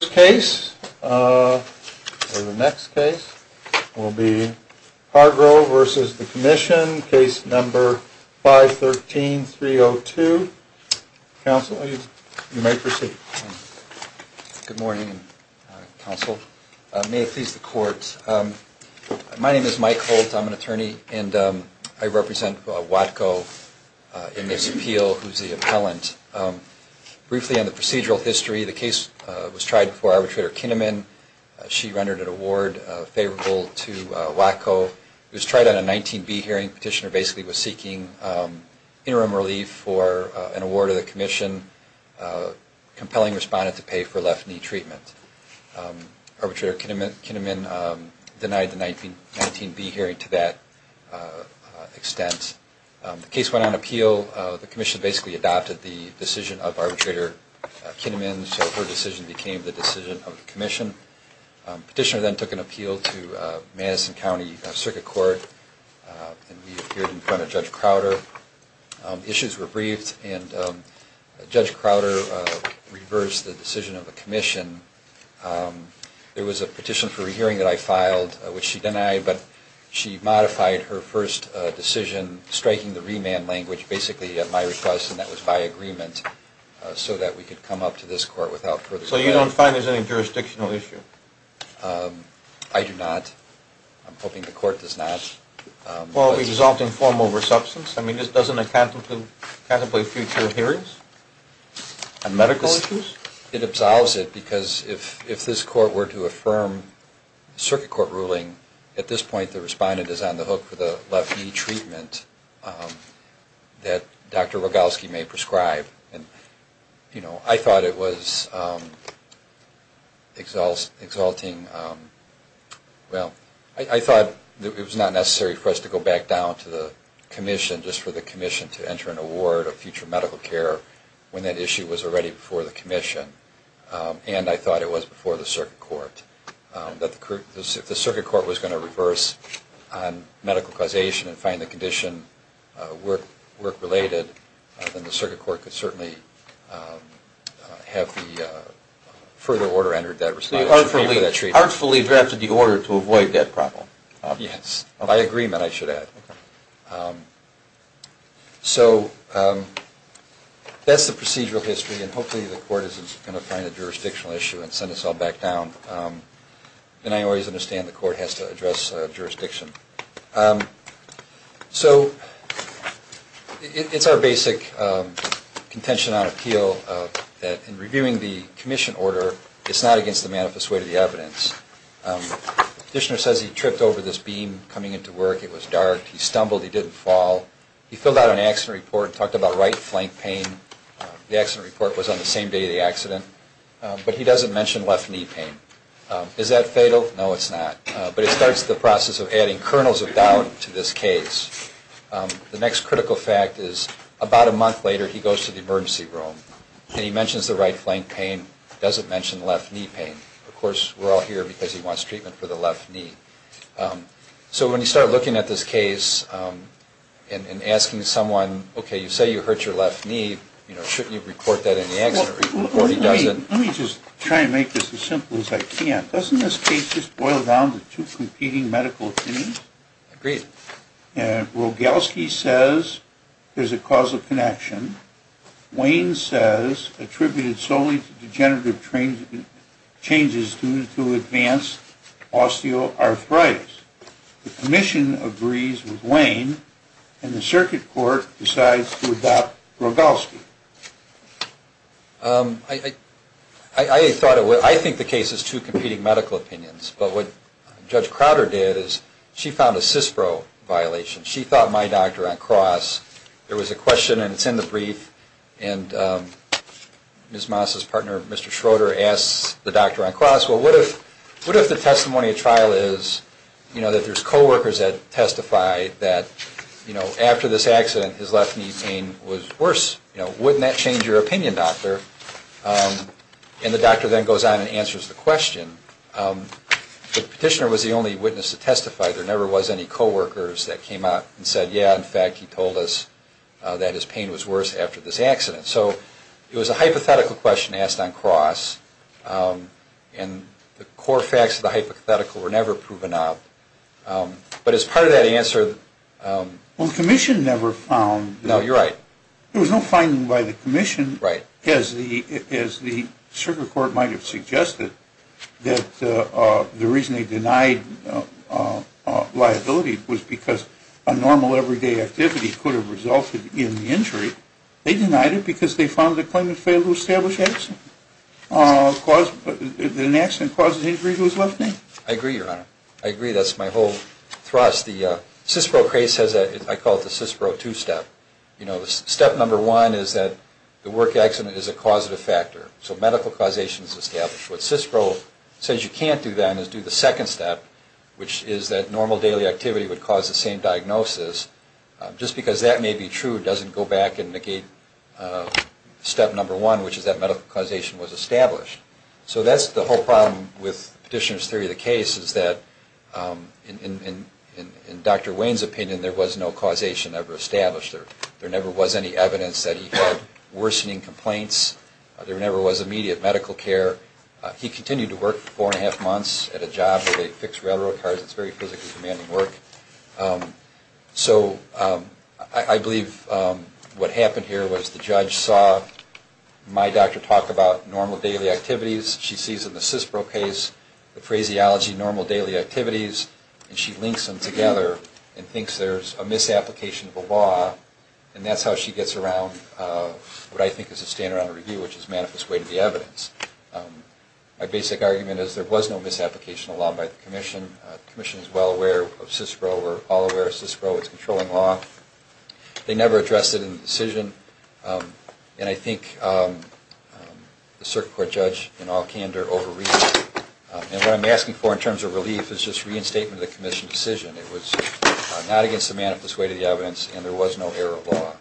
The first case, or the next case, will be Hargrove v. The Commission, Case No. 513-302. Counsel, you may proceed. Good morning, Counsel. May it please the Court. My name is Mike Holt. I'm an attorney, and I represent WATCO in this appeal, who's the appellant. Briefly on the procedural history, the case was tried before Arbitrator Kinnaman. She rendered an award favorable to WATCO. It was tried on a 19B hearing. Petitioner basically was seeking interim relief for an award of the Commission. Compelling respondent to pay for left knee treatment. Arbitrator Kinnaman denied the 19B hearing to that extent. The case went on appeal. The Commission basically adopted the decision of Arbitrator Kinnaman, so her decision became the decision of the Commission. Petitioner then took an appeal to Madison County Circuit Court, and we appeared in front of Judge Crowder. Issues were briefed, and Judge Crowder reversed the decision of the Commission. There was a petition for a hearing that I filed, which she denied, but she modified her first decision, striking the remand language, basically at my request, and that was by agreement, so that we could come up to this Court without further delay. So you don't find there's any jurisdictional issue? I do not. I'm hoping the Court does not. Well, it would result in formal resubstance. I mean, this doesn't contemplate future hearings? And medical issues? It absolves it, because if this Court were to affirm the Circuit Court ruling, at this point the respondent is on the hook for the left knee treatment that Dr. Rogalski may prescribe. And, you know, I thought it was exalting. Well, I thought it was not necessary for us to go back down to the Commission just for the Commission to enter an award of future medical care when that issue was already before the Commission, and I thought it was before the Circuit Court. If the Circuit Court was going to reverse on medical causation and find the condition work-related, then the Circuit Court could certainly have the further order entered that respondent should pay for that treatment. So you artfully drafted the order to avoid that problem? Yes. By agreement, I should add. Okay. So that's the procedural history, and hopefully the Court isn't going to find a jurisdictional issue and send us all back down. And I always understand the Court has to address jurisdiction. So it's our basic contention on appeal that in reviewing the Commission order, it's not against the manifest way of the evidence. The petitioner says he tripped over this beam coming into work. It was dark. He stumbled. He didn't fall. He filled out an accident report, talked about right flank pain. The accident report was on the same day of the accident. But he doesn't mention left knee pain. Is that fatal? No, it's not. But it starts the process of adding kernels of doubt to this case. The next critical fact is about a month later, he goes to the emergency room, and he mentions the right flank pain, doesn't mention left knee pain. Of course, we're all here because he wants treatment for the left knee. So when you start looking at this case and asking someone, okay, you say you hurt your left knee. Shouldn't you report that in the accident report? He doesn't. Let me just try and make this as simple as I can. Doesn't this case just boil down to two competing medical opinions? Agreed. Rogalski says there's a cause of connection. Wayne says attributed solely to degenerative changes due to advanced osteoarthritis. The commission agrees with Wayne, and the circuit court decides to adopt Rogalski. I think the case is two competing medical opinions, but what Judge Crowder did is she found a CISPRO violation. She thought my doctor on cross, there was a question, and it's in the brief, and Ms. Moss's partner, Mr. Schroeder, asks the doctor on cross, well, what if the testimony of trial is, you know, that there's co-workers that testify that, you know, after this accident, his left knee pain was worse, you know, worse than before? Wouldn't that change your opinion, doctor? And the doctor then goes on and answers the question. The petitioner was the only witness to testify. There never was any co-workers that came out and said, yeah, in fact, he told us that his pain was worse after this accident. So it was a hypothetical question asked on cross, and the core facts of the hypothetical were never proven out. But as part of that answer... Well, the commission never found... No, you're right. There was no finding by the commission, as the circuit court might have suggested, that the reason they denied liability was because a normal everyday activity could have resulted in the injury. They denied it because they found the claimant failed to establish an accident that caused the injury to his left knee. I agree, Your Honor. I agree. That's my whole thrust. The CISPRO case has a... I call it the CISPRO two-step. You know, step number one is that the work accident is a causative factor, so medical causation is established. What CISPRO says you can't do then is do the second step, which is that normal daily activity would cause the same diagnosis. Just because that may be true doesn't go back and negate step number one, which is that medical causation was established. So that's the whole problem with Petitioner's theory of the case, is that in Dr. Wayne's opinion, there was no causation ever established. There never was any evidence that he had worsening complaints. There never was immediate medical care. He continued to work four and a half months at a job where they fixed railroad cars. It's very physically demanding work. So I believe what happened here was the judge saw my doctor talk about normal daily activities. She sees in the CISPRO case the phraseology, normal daily activities, and she links them together and thinks there's a misapplication of a law, and that's how she gets around what I think is a stand-alone review, which is manifest way to the evidence. My basic argument is there was no misapplication of a law by the commission. The commission is well aware of CISPRO. We're all aware of CISPRO. It's controlling law. They never addressed it in the decision. And I think the circuit court judge, in all candor, overreached. And what I'm asking for in terms of relief is just reinstatement of the commission's decision. It was not against the manifest way to the evidence, and there was no error of law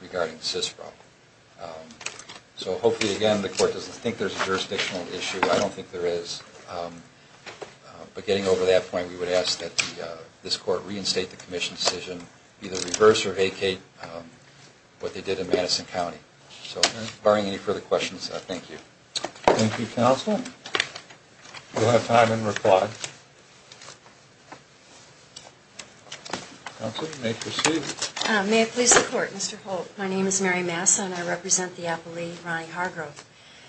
regarding CISPRO. So hopefully, again, the court doesn't think there's a jurisdictional issue. I don't think there is. But getting over that point, we would ask that this court reinstate the commission's decision, either reverse or vacate what they did in Madison County. So barring any further questions, thank you. Thank you, counsel. We'll have time in reply. Counsel, you may proceed. May it please the court, Mr. Holt. My name is Mary Massa, and I represent the appellee, Ronnie Hargrove.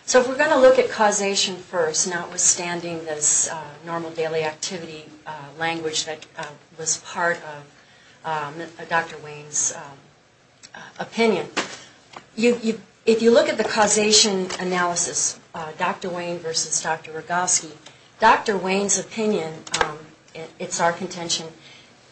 So if we're going to look at causation first, notwithstanding this normal daily activity language that was part of Dr. Wayne's opinion, if you look at the causation analysis, Dr. Wayne versus Dr. Rogowski, Dr. Wayne's opinion, it's our contention,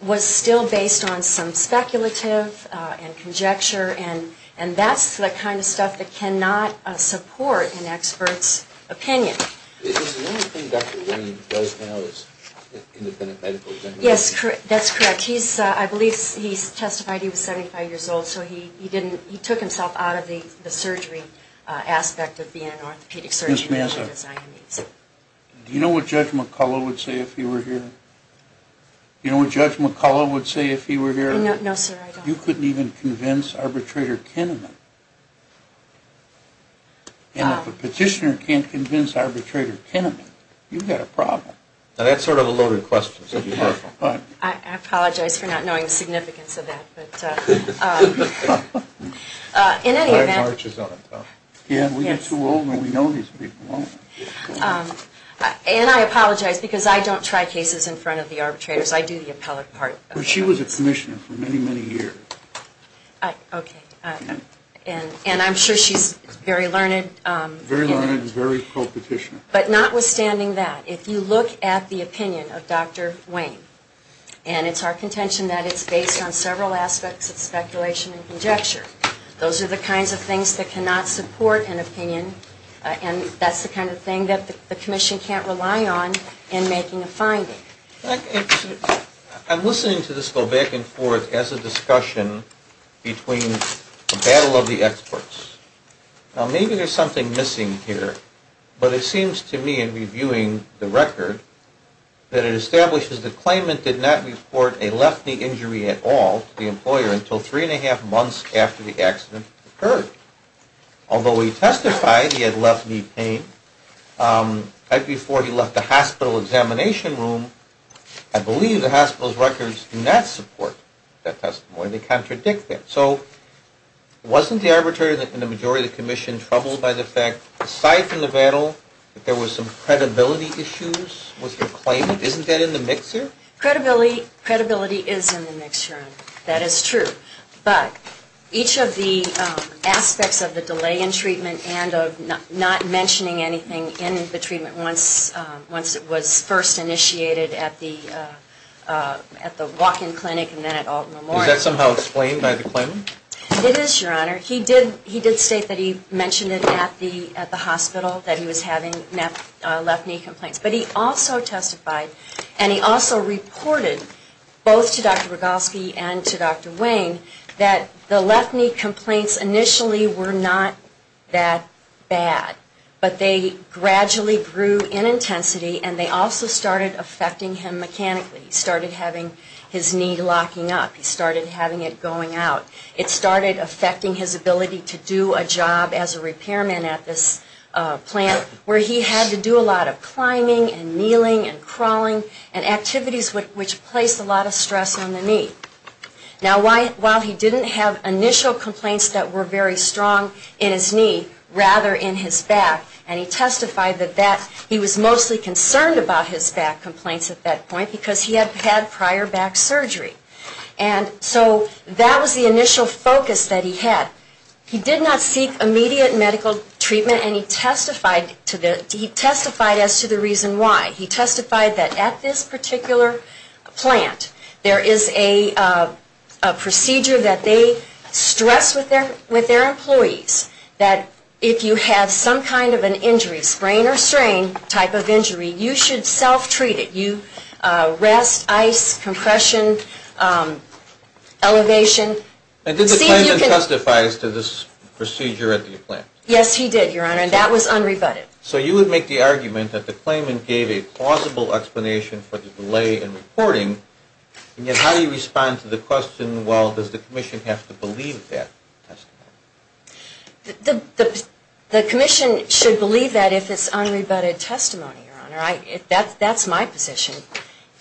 was still based on some speculative and conjecture, and that's the kind of stuff that cannot support an expert's opinion. Is the only thing Dr. Wayne does now is independent medical examiner? Yes, that's correct. I believe he testified he was 75 years old, so he took himself out of the surgery aspect of being an orthopedic surgeon. Ms. Massa, do you know what Judge McCullough would say if he were here? Do you know what Judge McCullough would say if he were here? No, sir, I don't. You couldn't even convince Arbitrator Kinneman. And if a petitioner can't convince Arbitrator Kinneman, you've got a problem. That's sort of a loaded question. I apologize for not knowing the significance of that, but in any event... Time marches on. We get too old when we know these people, don't we? And I apologize because I don't try cases in front of the arbitrators. I do the appellate part. But she was a commissioner for many, many years. Okay, and I'm sure she's very learned. Very learned and very pro-petitioner. But notwithstanding that, if you look at the opinion of Dr. Wayne, and it's our contention that it's based on several aspects of speculation and conjecture, those are the kinds of things that cannot support an opinion, and that's the kind of thing that the commission can't rely on in making a finding. I'm listening to this go back and forth as a discussion between a battle of the experts. Now, maybe there's something missing here, but it seems to me, in reviewing the record, that it establishes the claimant did not report a left knee injury at all to the employer until three and a half months after the accident occurred. Although he testified he had left knee pain right before he left the hospital examination room, I believe the hospital's records do not support that testimony. They contradict that. So wasn't the arbitrator and the majority of the commission troubled by the fact, aside from the battle, that there was some credibility issues with the claimant? Isn't that in the mixer? Credibility is in the mixer. That is true. But each of the aspects of the delay in treatment and of not mentioning anything in the treatment once it was first initiated at the walk-in clinic and then at Alton Memorial. Is that somehow explained by the claimant? It is, Your Honor. He did state that he mentioned it at the hospital, that he was having left knee complaints. But he also testified, and he also reported both to Dr. Rogalski and to Dr. Wayne, that the left knee complaints initially were not that bad. But they gradually grew in intensity, and they also started affecting him mechanically. He started having his knee locking up. He started having it going out. It started affecting his ability to do a job as a repairman at this plant, where he had to do a lot of climbing and kneeling and crawling and activities which placed a lot of stress on the knee. Now, while he didn't have initial complaints that were very strong in his knee, rather in his back, and he testified that he was mostly concerned about his back complaints at that point because he had had prior back surgery. And so that was the initial focus that he had. He did not seek immediate medical treatment, and he testified as to the reason why. He testified that at this particular plant, there is a procedure that they stress with their employees that if you have some kind of an injury, sprain or strain type of injury, you should self-treat it. You can walk around and you can take a walk. They won't treat you. Rest, ice, compression, elevation. And did the claimant testify as to this procedure at the plant? Yes, he did, your honor, and that was unrebutted. So you would make the argument that the claimant gave a plausible explanation for the delay in reporting. And yet, how do you respond to the question, well, does the commission have to believe that testimony? The commission should believe that if it's unrebutted testimony, your honor. That's my position.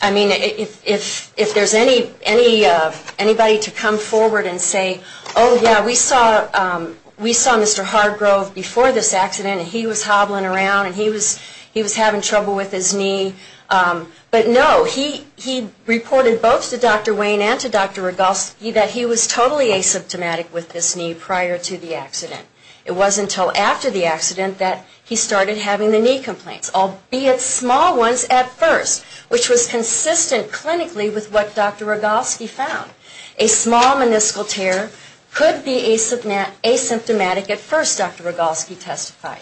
I mean, if there's anybody to come forward and say, oh, yeah, we saw Mr. Hardgrove before this accident and he was hobbling around and he was having trouble with his knee. But no, he reported both to Dr. Wayne and to Dr. Rogalski that he was totally asymptomatic with this knee prior to the accident. It wasn't until after the accident that he started having the knee complaints, albeit small ones at first, which was consistent clinically with what Dr. Rogalski found. A small meniscal tear could be asymptomatic at first, Dr. Rogalski testified.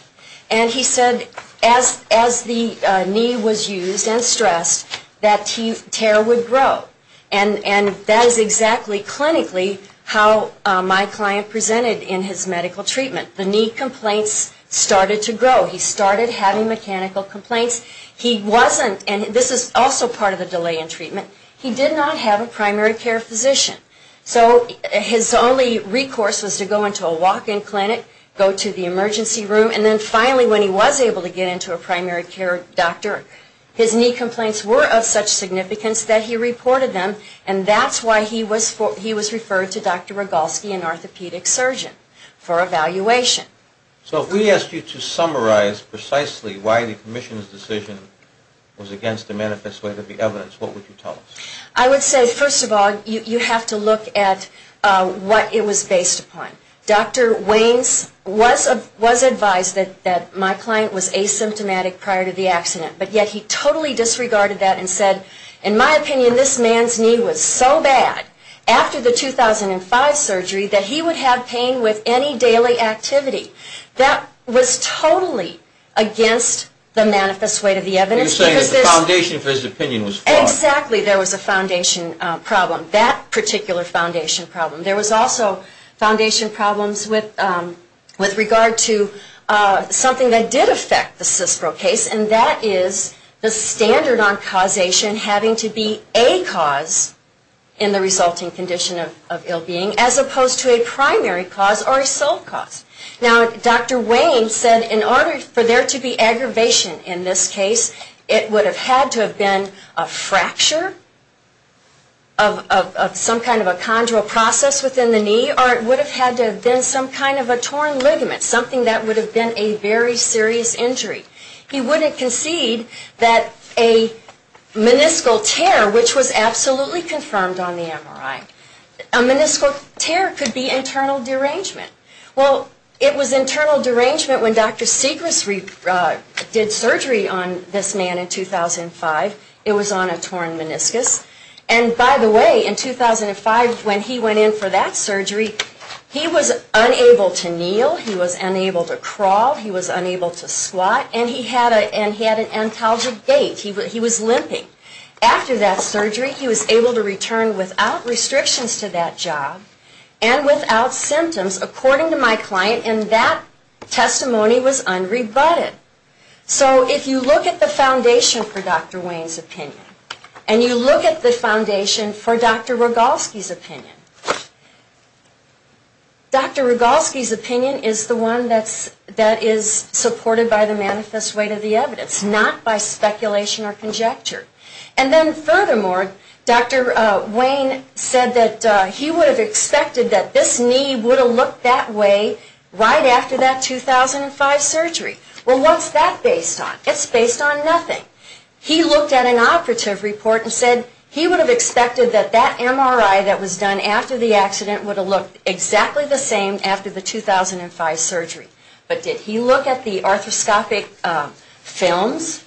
And he said as the knee was used and stressed, that tear would grow. And that is exactly clinically how my client presented in his medical treatment. The knee complaints started to grow. He started having mechanical complaints. He wasn't, and this is also part of the delay in treatment, he did not have a primary care physician. So his only recourse was to go into a walk-in clinic, go to the emergency room, and then finally when he was able to get into a primary care doctor, his knee complaints were of such significance that he reported them. And that's why he was referred to Dr. Rogalski, an orthopedic surgeon, for evaluation. So if we asked you to summarize precisely why the commission's decision was against the manifest way of the evidence, what would you tell us? I would say, first of all, you have to look at what it was based upon. Dr. Waynes was advised that my client was asymptomatic prior to the accident, but yet he totally disregarded that and said, in my opinion, this man's knee was so bad, after the 2005 surgery, that he would have pain with any daily activity. That was totally against the manifest way of the evidence. Exactly, there was a foundation problem, that particular foundation problem. There was also foundation problems with regard to something that did affect the CISPRO case, and that is the standard on causation having to be a cause in the resulting condition of ill-being, as opposed to a primary cause or a sole cause. Now, Dr. Waynes said, in order for there to be aggravation in this case, it would have had to have been a fracture of some kind of a chondral process within the knee, or it would have had to have been some kind of a torn ligament, something that would have been a very serious injury. He wouldn't concede that a meniscal tear, which was absolutely confirmed on the MRI, a meniscal tear could be internal derangement. Well, it was internal derangement when Dr. Segrist did surgery on this man in 2005. It was on a torn meniscus. And by the way, in 2005, when he went in for that surgery, he was unable to kneel, he was unable to crawl, he was unable to squat, and he had an antalgic gait. He was limping. After that surgery, he was able to return without restrictions to that job, and without symptoms, according to my client, and that testimony was unrebutted. So if you look at the foundation for Dr. Wayne's opinion, and you look at the foundation for Dr. Rogalski's opinion, Dr. Rogalski's opinion is the one that is supported by the manifest weight of the evidence, not by speculation or conjecture. And then furthermore, Dr. Wayne said that he would have expected that this knee would have looked that way right after that 2005 surgery. Well, what's that based on? It's based on nothing. He looked at an operative report and said he would have expected that that MRI that was done after the accident would have looked exactly the same after the 2005 surgery. But did he look at the arthroscopic films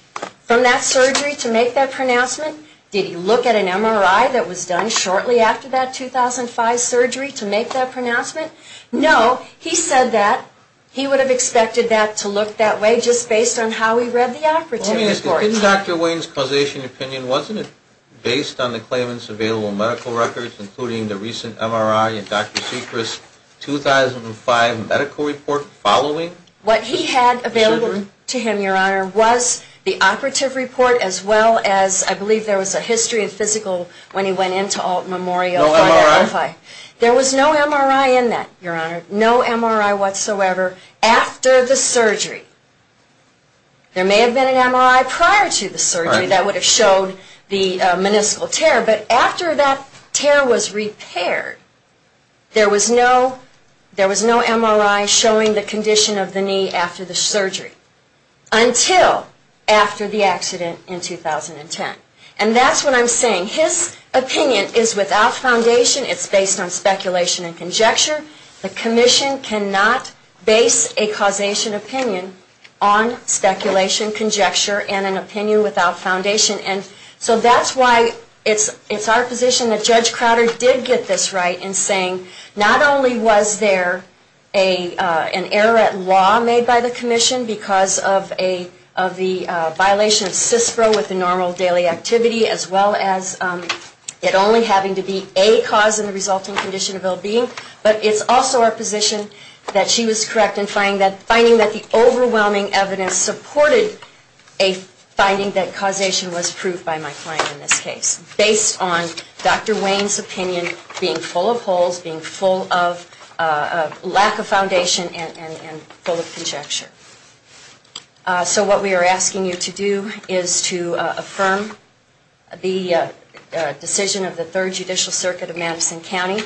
from that surgery to make that pronouncement? Did he look at an MRI that was done shortly after that 2005 surgery to make that pronouncement? No. He said that he would have expected that to look that way just based on how he read the operative report. Didn't Dr. Wayne's causation opinion, wasn't it, based on the claimants' available medical records, including the recent MRI and Dr. Seacrest's 2005 medical report following the surgery? What he had available to him, Your Honor, was the operative report as well as I believe there was a history of physical when he went into Alt Memorial. No MRI? There was no MRI in that, Your Honor. No MRI whatsoever after the surgery. There may have been an MRI prior to the surgery that would have showed the meniscal tear, but after that tear was repaired, there was no MRI showing the condition of the knee after the surgery until after the accident in 2010. And that's what I'm saying. His opinion is without foundation. It's based on speculation and conjecture. The commission cannot base a causation opinion on speculation, conjecture, and an opinion without foundation. And so that's why it's our position that Judge Crowder did get this right in saying not only was there an error at law made by the commission because of the violation of CISPRO with the normal daily activity as well as it only having to be a cause in the resulting condition of ill-being, but it's also our position that she was correct in finding that the overwhelming evidence supported a finding that causation was proved by my client in this case, based on Dr. Wayne's opinion being full of holes, being full of lack of foundation, and full of conjecture. So what we are asking you to do is to affirm the decision of the Third Judicial Circuit of Madison County,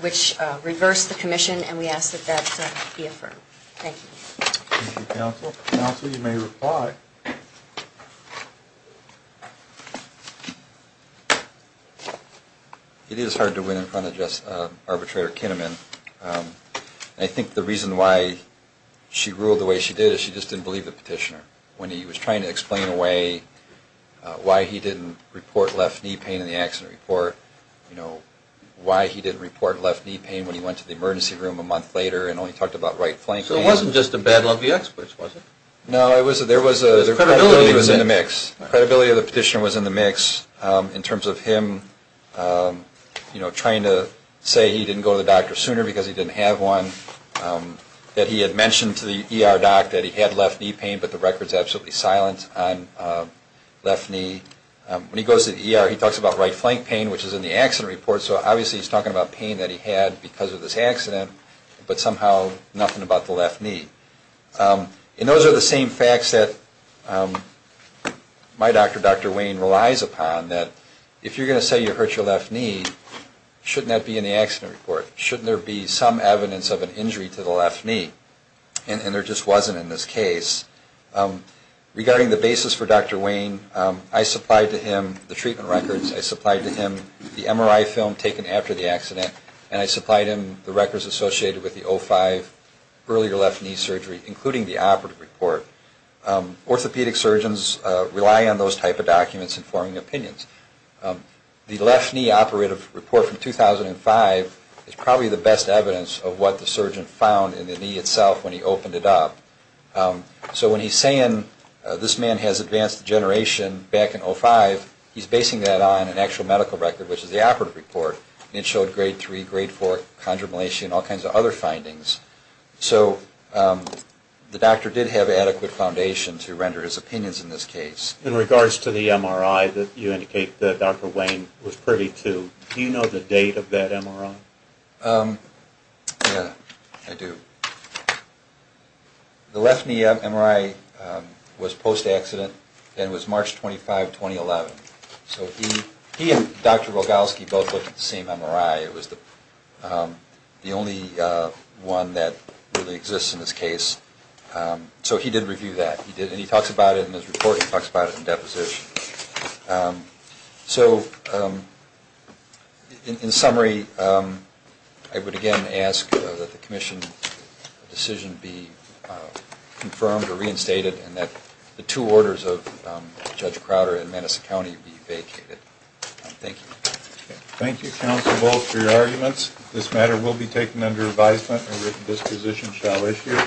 which reversed the commission, and we ask that that be affirmed. Thank you. Thank you, counsel. Counsel, you may reply. It is hard to win in front of just arbitrator Kinnaman. I think the reason why she ruled the way she did is she just didn't believe the petitioner. When he was trying to explain away why he didn't report left knee pain in the accident report, you know, why he didn't report left knee pain when he went to the emergency room a month later and only talked about right flank pain. So it wasn't just a battle of the experts, was it? No, there was credibility in the mix. Credibility of the petitioner was in the mix in terms of him, you know, trying to say he didn't go to the doctor sooner because he didn't have one, that he had mentioned to the ER doc that he had left knee pain, but the record is absolutely silent on left knee. When he goes to the ER, he talks about right flank pain, which is in the accident report, so obviously he is talking about pain that he had because of this accident, but somehow nothing about the left knee. And those are the same facts that my doctor, Dr. Wayne, relies upon, that if you are going to say you hurt your left knee, shouldn't that be in the accident report? Shouldn't there be some evidence of an injury to the left knee? And there just wasn't in this case. Regarding the basis for Dr. Wayne, I supplied to him the treatment records, I supplied to him the MRI film taken after the accident, and I supplied him the records associated with the 05 earlier left knee surgery, including the operative report. Orthopedic surgeons rely on those type of documents in forming opinions. The left knee operative report from 2005 is probably the best evidence of what the surgeon found in the knee itself when he opened it up. So when he is saying this man has advanced degeneration back in 05, he is basing that on an actual medical record, which is the operative report, and it showed grade 3, grade 4 chondromalacia and all kinds of other findings. So the doctor did have adequate foundation to render his opinions in this case. In regards to the MRI that you indicate that Dr. Wayne was privy to, do you know the date of that MRI? Yes, I do. The left knee MRI was post-accident, and it was March 25, 2011. So he and Dr. Rogalski both looked at the same MRI. It was the only one that really exists in this case. So he did review that, and he talks about it in his report. He talks about it in deposition. So in summary, I would again ask that the commission decision be confirmed or reinstated, and that the two orders of Judge Crowder and Madison County be vacated. Thank you. Thank you, Counsel Volk, for your arguments. This matter will be taken under advisement, and this position shall issue.